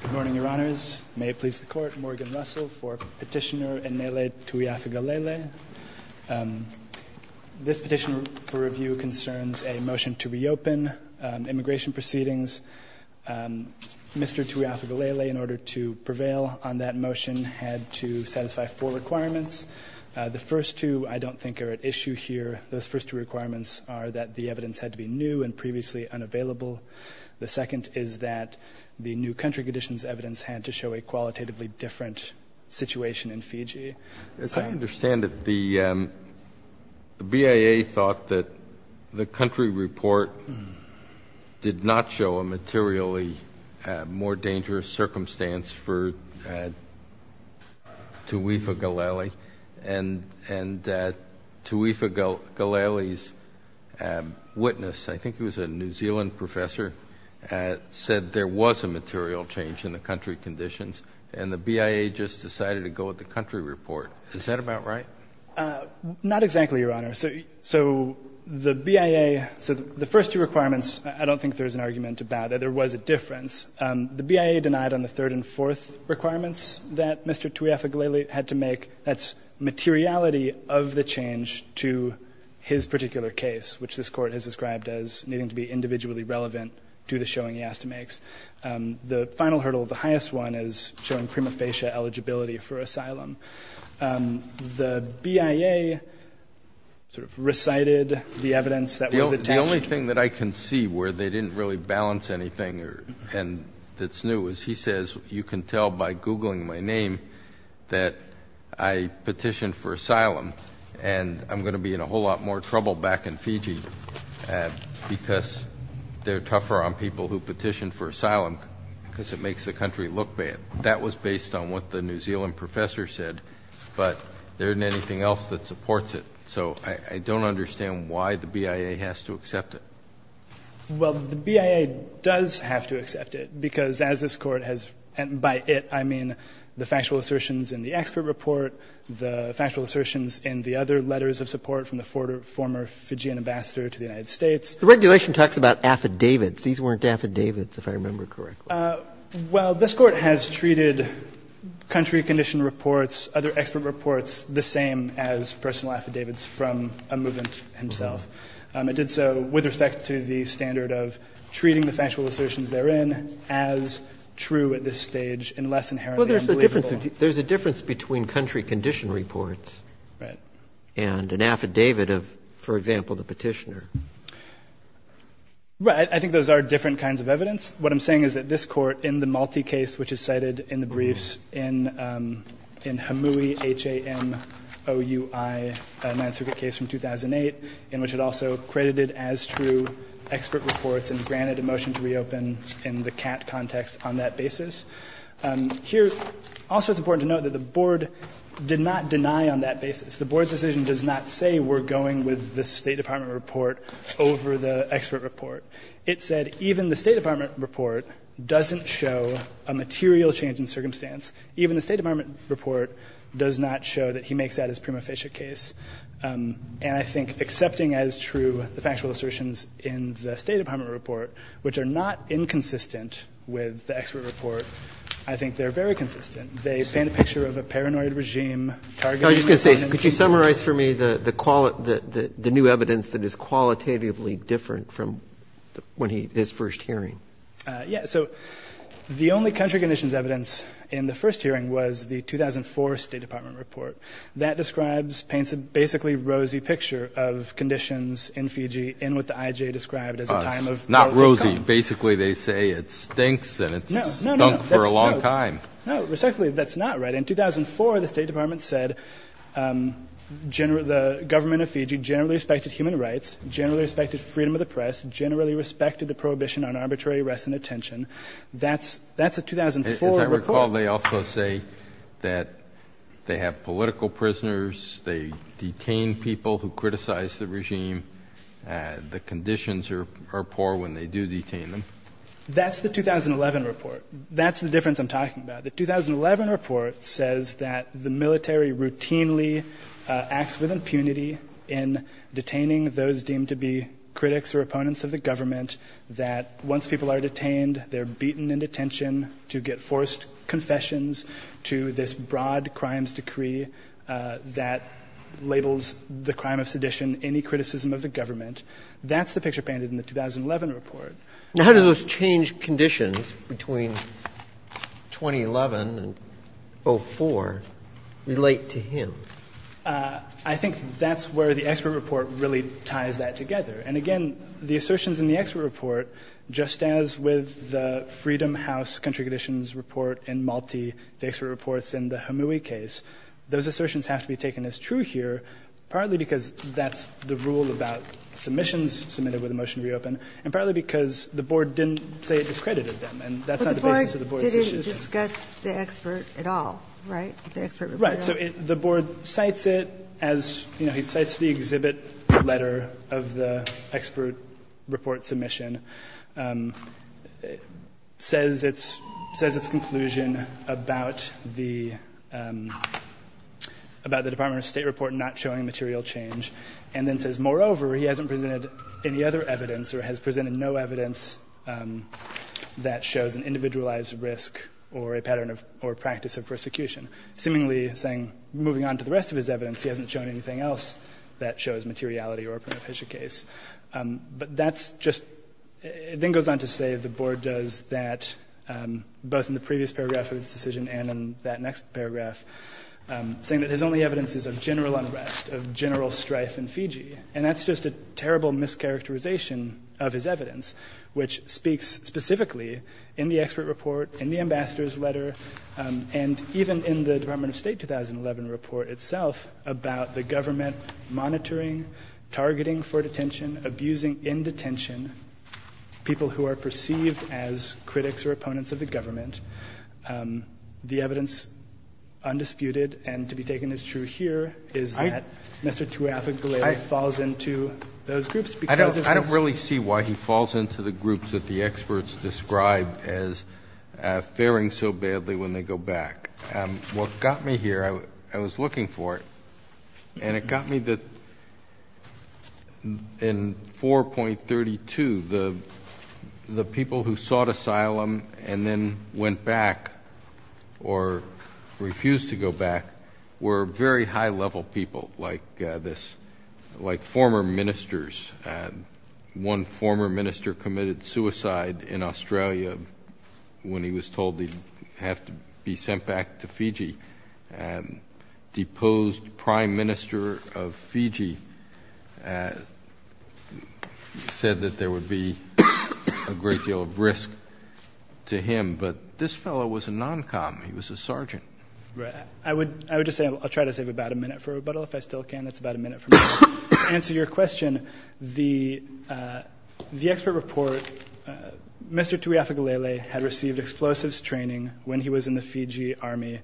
Good morning, Your Honors. May it please the Court, Morgan Russell for Petitioner Enele Tuifagalele. This petition for review concerns a motion to reopen immigration proceedings. Mr. Tuifagalele, in order to prevail on that motion, had to satisfy four requirements. The first two I don't think are at issue here. Those first two requirements are that the evidence had to be new and previously unavailable. The second is that the new country conditions evidence had to show a qualitatively different situation in Fiji. As I understand it, the BIA thought that the country report did not show a materially more dangerous circumstance for Tuifagalele. And Tuifagalele's witness, I think he was a New Zealand professor, said there was a material change in the country conditions, and the BIA just decided to go with the country report. Is that about right? Not exactly, Your Honor. So the BIA — so the first two requirements, I don't think there's an argument about it. There was a difference. The BIA denied on the third and fourth requirements that Mr. Tuifagalele had to make. That's materiality of the change to his particular case, which this Court has described as needing to be individually relevant due to showing he has to make. The final hurdle, the highest one, is showing prima facie eligibility for asylum. The BIA sort of recited the evidence that was attached to it. What I can see where they didn't really balance anything that's new is he says, you can tell by Googling my name that I petitioned for asylum, and I'm going to be in a whole lot more trouble back in Fiji because they're tougher on people who petitioned for asylum because it makes the country look bad. That was based on what the New Zealand professor said, but there isn't anything else that supports it. So I don't understand why the BIA has to accept it. Well, the BIA does have to accept it, because as this Court has — and by it, I mean the factual assertions in the expert report, the factual assertions in the other letters of support from the former Fijian ambassador to the United States. The regulation talks about affidavits. These weren't affidavits, if I remember correctly. Well, this Court has treated country condition reports, other expert reports the same as personal affidavits from a movement himself. It did so with respect to the standard of treating the factual assertions therein as true at this stage and less inherently unbelievable. There's a difference between country condition reports and an affidavit of, for example, the petitioner. Right. I think those are different kinds of evidence. What I'm saying is that this Court, in the Malti case which is cited in the briefs, in Hamui, H-A-M-O-U-I, Ninth Circuit case from 2008, in which it also credited as true expert reports and granted a motion to reopen in the CAT context on that basis, here also it's important to note that the Board did not deny on that basis. The Board's decision does not say we're going with the State Department report over the expert report. It said even the State Department report doesn't show a material change in circumstance. Even the State Department report does not show that he makes that his prima facie case. And I think accepting as true the factual assertions in the State Department report, which are not inconsistent with the expert report, I think they're very consistent. They paint a picture of a paranoid regime targeting the clients. Mr. Chase, could you summarize for me the new evidence that is qualitatively different from when he, his first hearing? Yes. So the only country conditions evidence in the first hearing was the 2004 State Department report. That describes, paints a basically rosy picture of conditions in Fiji in what the IJ described as a time of relative calm. Not rosy. Basically they say it stinks and it's stunk for a long time. No, no, no. Respectfully, that's not right. In 2004, the State Department said the government of Fiji generally respected human rights, generally respected freedom of the press, generally respected the prohibition on arbitrary arrest and detention. That's a 2004 report. As I recall, they also say that they have political prisoners, they detain people who criticize the regime. The conditions are poor when they do detain them. That's the 2011 report. That's the difference I'm talking about. The 2011 report says that the military routinely acts with impunity in detaining those deemed to be critics or opponents of the government, that once people are detained, they're beaten into detention to get forced confessions to this broad crimes decree that labels the crime of sedition any criticism of the government. That's the picture painted in the 2011 report. Now, how do those changed conditions between 2011 and 2004 relate to him? I think that's where the expert report really ties that together. And again, the assertions in the expert report, just as with the Freedom House country conditions report in Malti, the expert reports in the Hamui case, those assertions have to be taken as true here, partly because that's the rule about submissions submitted with a motion to reopen, and partly because the board didn't say it discredited them, and that's not the basis of the board's decision. Ginsburg. But the board didn't discuss the expert at all, right, the expert report at all? Right. So the board cites it as, you know, he cites the exhibit letter of the expert report submission, says its conclusion about the Department of State report not showing material change, and then says, moreover, he hasn't presented any other evidence or has presented no evidence that shows an individualized risk or a pattern or practice of persecution. Seemingly saying, moving on to the rest of his evidence, he hasn't shown anything else that shows materiality or a pernicious case. But that's just — it then goes on to say the board does that both in the previous paragraph of its decision and in that next paragraph, saying that his only evidence is of general unrest, of general strife in Fiji. And that's just a terrible mischaracterization of his evidence, which speaks specifically in the expert report, in the ambassador's letter, and even in the Department of State 2011 report itself about the government monitoring, targeting for detention, abusing in detention people who are perceived as critics or opponents of the government. The evidence, undisputed and to be taken as true here, is that Mr. Tuafegbele falls into those groups because of his — I don't really see why he falls into the groups that the experts describe as faring so badly when they go back. What got me here, I was looking for it, and it got me that in 4.32, the people who sought asylum and then went back or refused to go back were very high-level people like this, like former ministers. One former minister committed suicide in Australia when he was told he'd have to be sent back to Fiji. The deposed prime minister of Fiji said that there would be a great deal of risk to him, but this fellow was a non-com. He was a sergeant. I would just say — I'll try to save about a minute for rebuttal, if I still can. That's about a minute for me to answer your question. The expert report, Mr. Tuafegbele had received explosives training when he was in the Fiji Army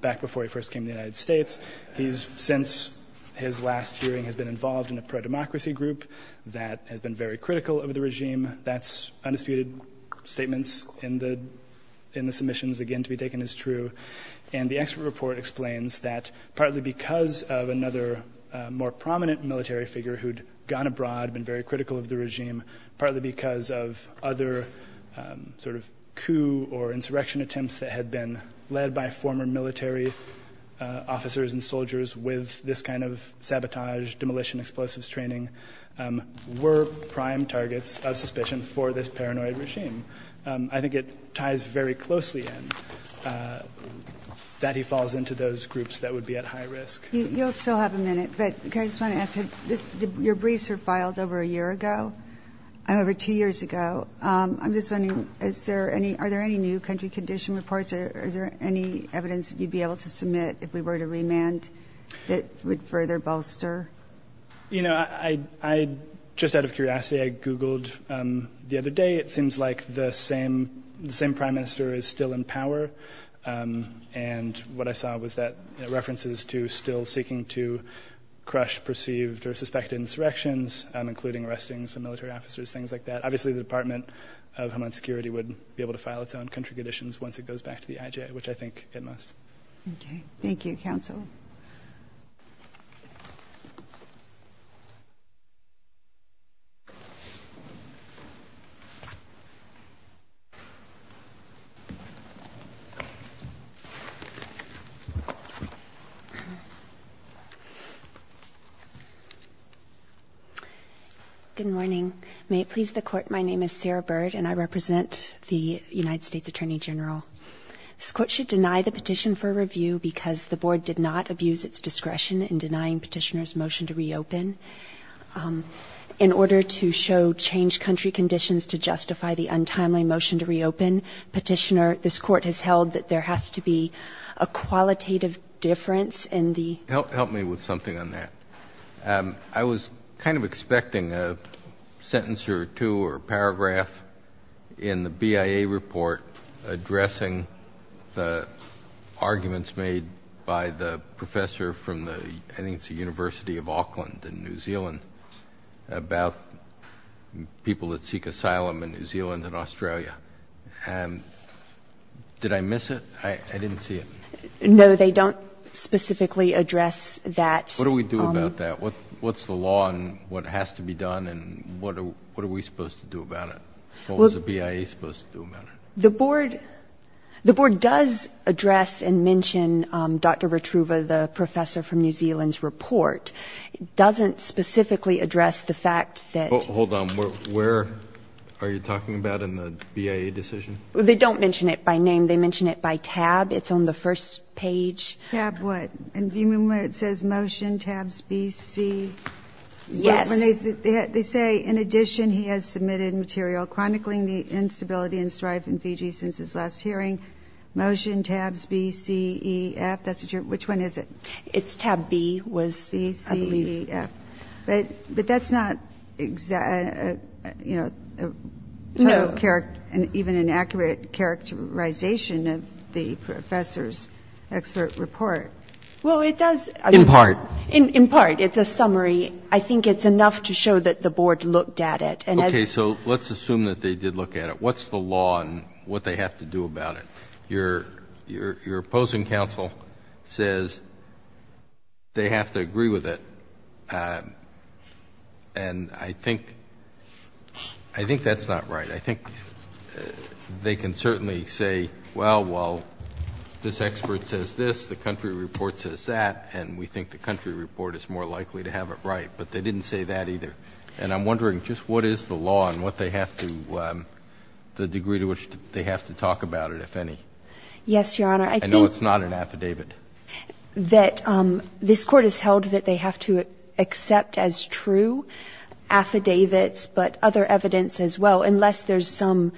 back before he first came to the United States. He's — since his last hearing, has been involved in a pro-democracy group that has been very critical of the regime. That's undisputed. Statements in the submissions, again, to be taken as true. And the expert report explains that partly because of another more prominent military figure who'd gone abroad, been very critical of the regime, partly because of other sort of coup or insurrection attempts that had been led by former military officers and soldiers with this kind of sabotage, demolition, explosives training, were prime targets of suspicion for this paranoid regime. I think it ties very closely in that he falls into those groups that would be at high risk. You'll still have a minute, but I just want to ask, your briefs were filed over a year ago, over two years ago. I'm just wondering, is there any — are there any new country condition reports? Is there any evidence you'd be able to submit if we were to remand that would further bolster? You know, I — just out of curiosity, I Googled the other day. It seems like the same prime minister is still in power. And what I saw was that — references to still seeking to crush perceived or suspected insurrections, including arresting some military officers, things like that. But obviously the Department of Homeland Security would be able to file its own country conditions once it goes back to the IJ, which I think it must. Okay. Thank you, counsel. Good morning. May it please the Court, my name is Sarah Bird, and I represent the United States Attorney General. This Court should deny the petition for review because the Board did not abuse its discretion in denying Petitioner's motion to reopen. In order to show changed country conditions to justify the untimely motion to reopen, Petitioner, this Court has held that there has to be a qualitative difference in the — Help me with something on that. I was kind of expecting a sentence or two or a paragraph in the BIA report addressing the arguments made by the professor from the — I think it's the University of Auckland in New Zealand about people that seek asylum in New Zealand and Australia. Did I miss it? I didn't see it. No, they don't specifically address that. What do we do about that? What's the law and what has to be done and what are we supposed to do about it? What was the BIA supposed to do about it? The Board does address and mention Dr. Rotruva, the professor from New Zealand's report. It doesn't specifically address the fact that — Hold on. Where are you talking about in the BIA decision? They don't mention it by name. They mention it by tab. It's on the first page. Tab what? And do you remember where it says motion, tabs, B, C? Yes. They say, in addition, he has submitted material chronicling the instability and strife in Fiji since his last hearing. Motion, tabs, B, C, E, F. That's what you're — which one is it? It's tab B was, I believe. B, C, E, F. But that's not, you know, a total — No. Well, it does — In part. In part. It's a summary. I think it's enough to show that the Board looked at it. Okay. So let's assume that they did look at it. What's the law and what they have to do about it? Your opposing counsel says they have to agree with it. And I think that's not right. I think they can certainly say, well, well, this expert says this, the country report says that, and we think the country report is more likely to have it right. But they didn't say that either. And I'm wondering, just what is the law and what they have to — the degree to which they have to talk about it, if any? Yes, Your Honor. I think — I know it's not an affidavit. That this Court has held that they have to accept as true affidavits, but other evidence as well, unless there's some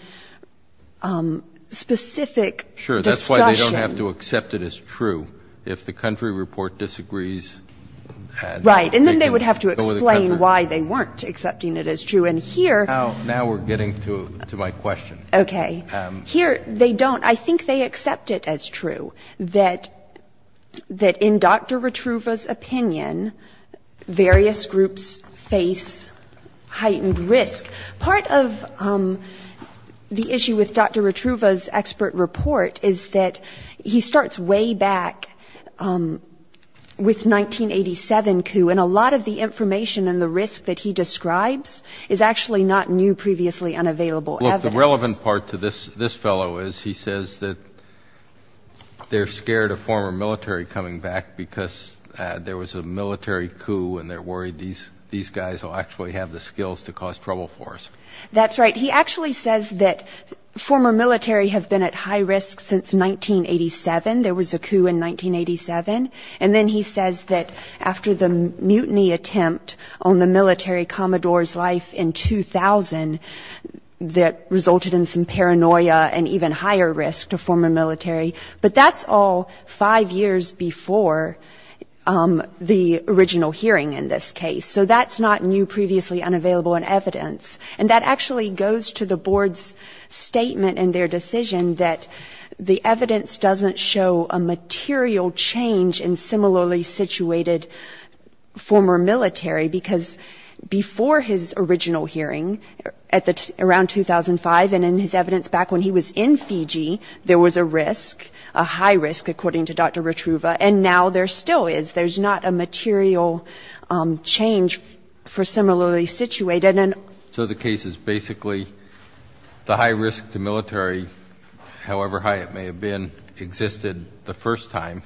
specific discussion. Sure. That's why they don't have to accept it as true. If the country report disagrees, they can go with the country. Right. And then they would have to explain why they weren't accepting it as true. And here — Now we're getting to my question. Okay. Here, they don't. I think they accept it as true, that in Dr. Rotruva's opinion, various groups face heightened risk. Part of the issue with Dr. Rotruva's expert report is that he starts way back with 1987 coup, and a lot of the information and the risk that he describes is actually not new, previously unavailable evidence. The relevant part to this fellow is he says that they're scared of former military coming back because there was a military coup and they're worried these guys will actually have the skills to cause trouble for us. That's right. He actually says that former military have been at high risk since 1987. There was a coup in 1987. And then he says that after the mutiny attempt on the military commodore's life in 2000 that resulted in some paranoia and even higher risk to former military. But that's all five years before the original hearing in this case. So that's not new, previously unavailable evidence. And that actually goes to the board's statement in their decision that the evidence doesn't show a material change in similarly situated former military, because before his original hearing around 2005 and in his evidence back when he was in Fiji, there was a risk, a high risk, according to Dr. Rotruva, and now there still is, there's not a material change for similarly situated. So the case is basically the high risk to military, however high it may have been, existed the first time.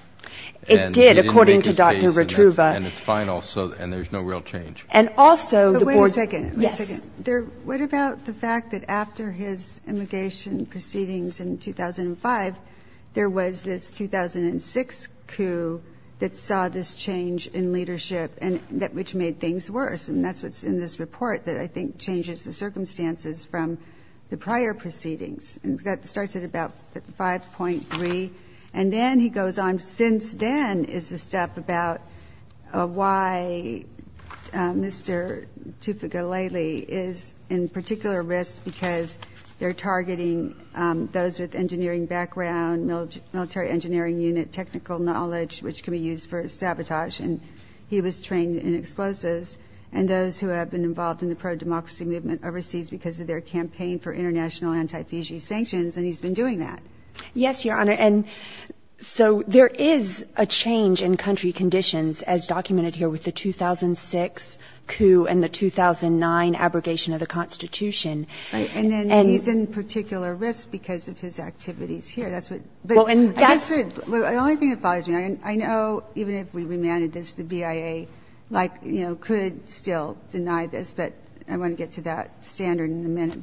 It did, according to Dr. Rotruva. And it's final, and there's no real change. And also the board. Wait a second. Yes. What about the fact that after his immigration proceedings in 2005, there was this 2006 coup that saw this change in leadership, which made things worse. And that's what's in this report that I think changes the circumstances from the prior proceedings. And that starts at about 5.3. And then he goes on. Since then is the step about why Mr. Tufekolele is in particular risk, because they're targeting those with engineering background, military engineering unit, technical knowledge, which can be used for sabotage. And he was trained in explosives, and those who have been involved in the pro-democracy movement overseas because of their campaign for international anti-Fiji sanctions, and he's been doing that. Yes, Your Honor. And so there is a change in country conditions as documented here with the 2006 coup and the 2009 abrogation of the Constitution. Right. And then he's in particular risk because of his activities here. That's what. Well, and that's. The only thing that bothers me, I know even if we remanded this, the BIA, like, you know, could still deny this. But I want to get to that standard in a minute.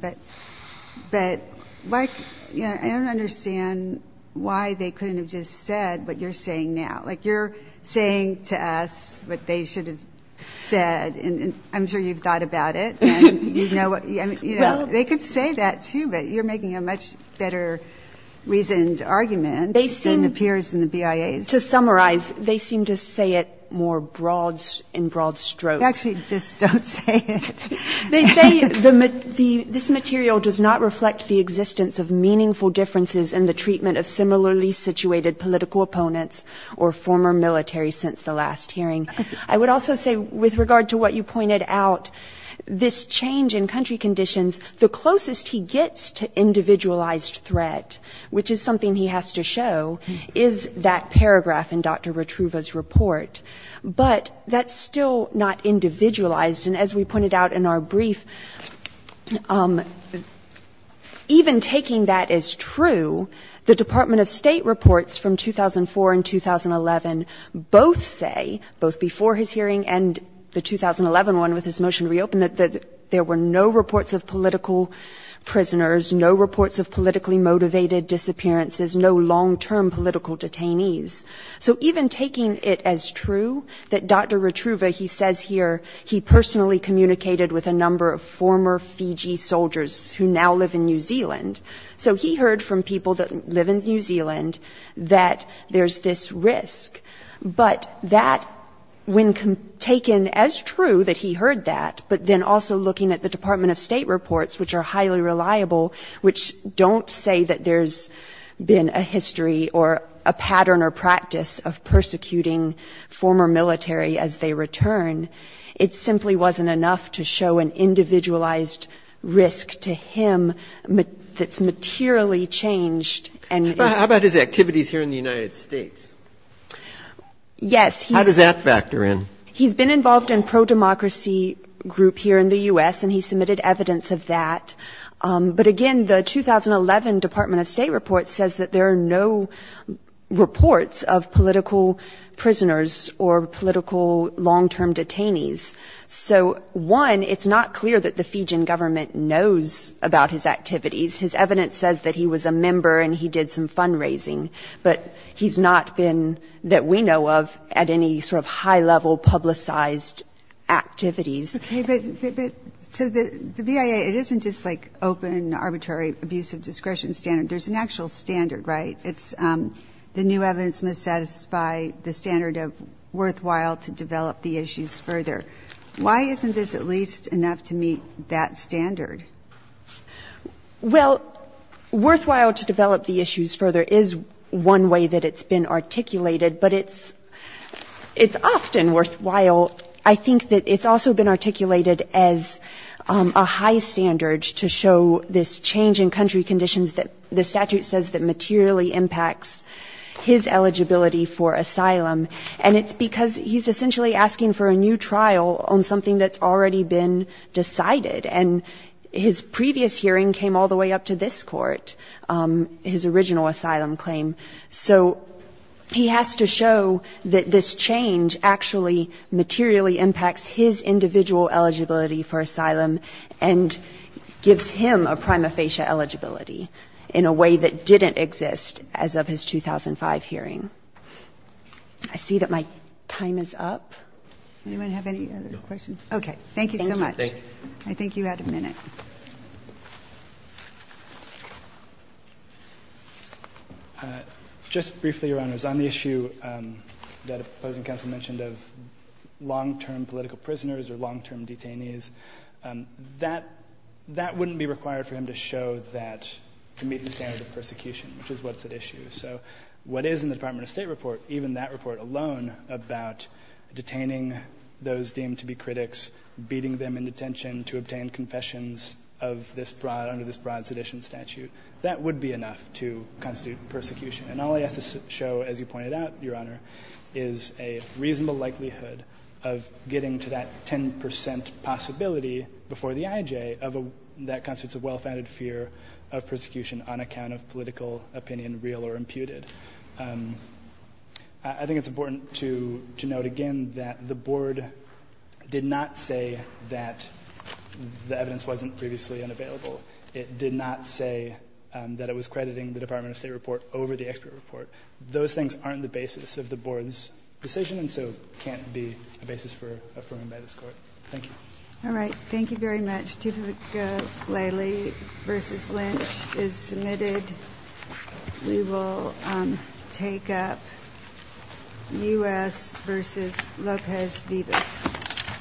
But I don't understand why they couldn't have just said what you're saying now. Like, you're saying to us what they should have said, and I'm sure you've thought about it. And, you know, they could say that, too, but you're making a much better reasoned argument. It appears in the BIA's. To summarize, they seem to say it more in broad strokes. Actually, just don't say it. They say this material does not reflect the existence of meaningful differences in the treatment of similarly situated political opponents or former military since the last hearing. I would also say with regard to what you pointed out, this change in country conditions, the closest he gets to individualized threat, which is something he has to show, is that paragraph in Dr. Retruva's report. But that's still not individualized. And as we pointed out in our brief, even taking that as true, the Department of State reports from 2004 and 2011 both say, both before his hearing and the 2011 one with his political prisoners, no reports of politically motivated disappearances, no long-term political detainees. So even taking it as true that Dr. Retruva, he says here he personally communicated with a number of former Fiji soldiers who now live in New Zealand. So he heard from people that live in New Zealand that there's this risk. But that, when taken as true that he heard that, but then also looking at the Department of State reports, which are highly reliable, which don't say that there's been a history or a pattern or practice of persecuting former military as they return, it simply wasn't enough to show an individualized risk to him that's materially changed and is... But how about his activities here in the United States? Yes, he's... How does that factor in? He's been involved in pro-democracy group here in the U.S. and he submitted evidence of that. But again, the 2011 Department of State report says that there are no reports of political prisoners or political long-term detainees. So one, it's not clear that the Fijian government knows about his activities. His evidence says that he was a member and he did some fundraising. But he's not been, that we know of, at any sort of high-level publicized activities. Okay, but so the BIA, it isn't just like open, arbitrary, abusive discretion standard. There's an actual standard, right? It's the new evidence must satisfy the standard of worthwhile to develop the issues further. Why isn't this at least enough to meet that standard? Well, worthwhile to develop the issues further is one way that it's been articulated. But it's often worthwhile. I think that it's also been articulated as a high standard to show this change in country conditions that the statute says that materially impacts his eligibility for asylum. And it's because he's essentially asking for a new trial on something that's already been decided. And his previous hearing came all the way up to this court, his original asylum claim. So he has to show that this change actually materially impacts his individual eligibility for asylum and gives him a prima facie eligibility in a way that didn't exist as of his 2005 hearing. I see that my time is up. Anyone have any other questions? Okay, thank you so much. I think you had a minute. Just briefly, Your Honors. On the issue that opposing counsel mentioned of long-term political prisoners or long-term detainees, that wouldn't be required for him to show that to meet the standard of persecution, which is what's at issue. So what is in the Department of State report, even that report alone about detaining those deemed to be critics, beating them into detention to obtain confessions under this broad sedition statute, that would be enough to constitute persecution. And all he has to show, as you pointed out, Your Honor, is a reasonable likelihood of getting to that 10 percent possibility before the IJ that constitutes a well-founded fear of persecution on account of political opinion, real or imputed. I think it's important to note again that the Board did not say that the evidence wasn't previously unavailable. It did not say that it was crediting the Department of State report over the expert report. Those things aren't the basis of the Board's decision and so can't be the basis for affirming by this Court. Thank you. All right. Thank you very much. The verdict of Lely v. Lynch is submitted. We will take up U.S. v. Lopez-Vivas.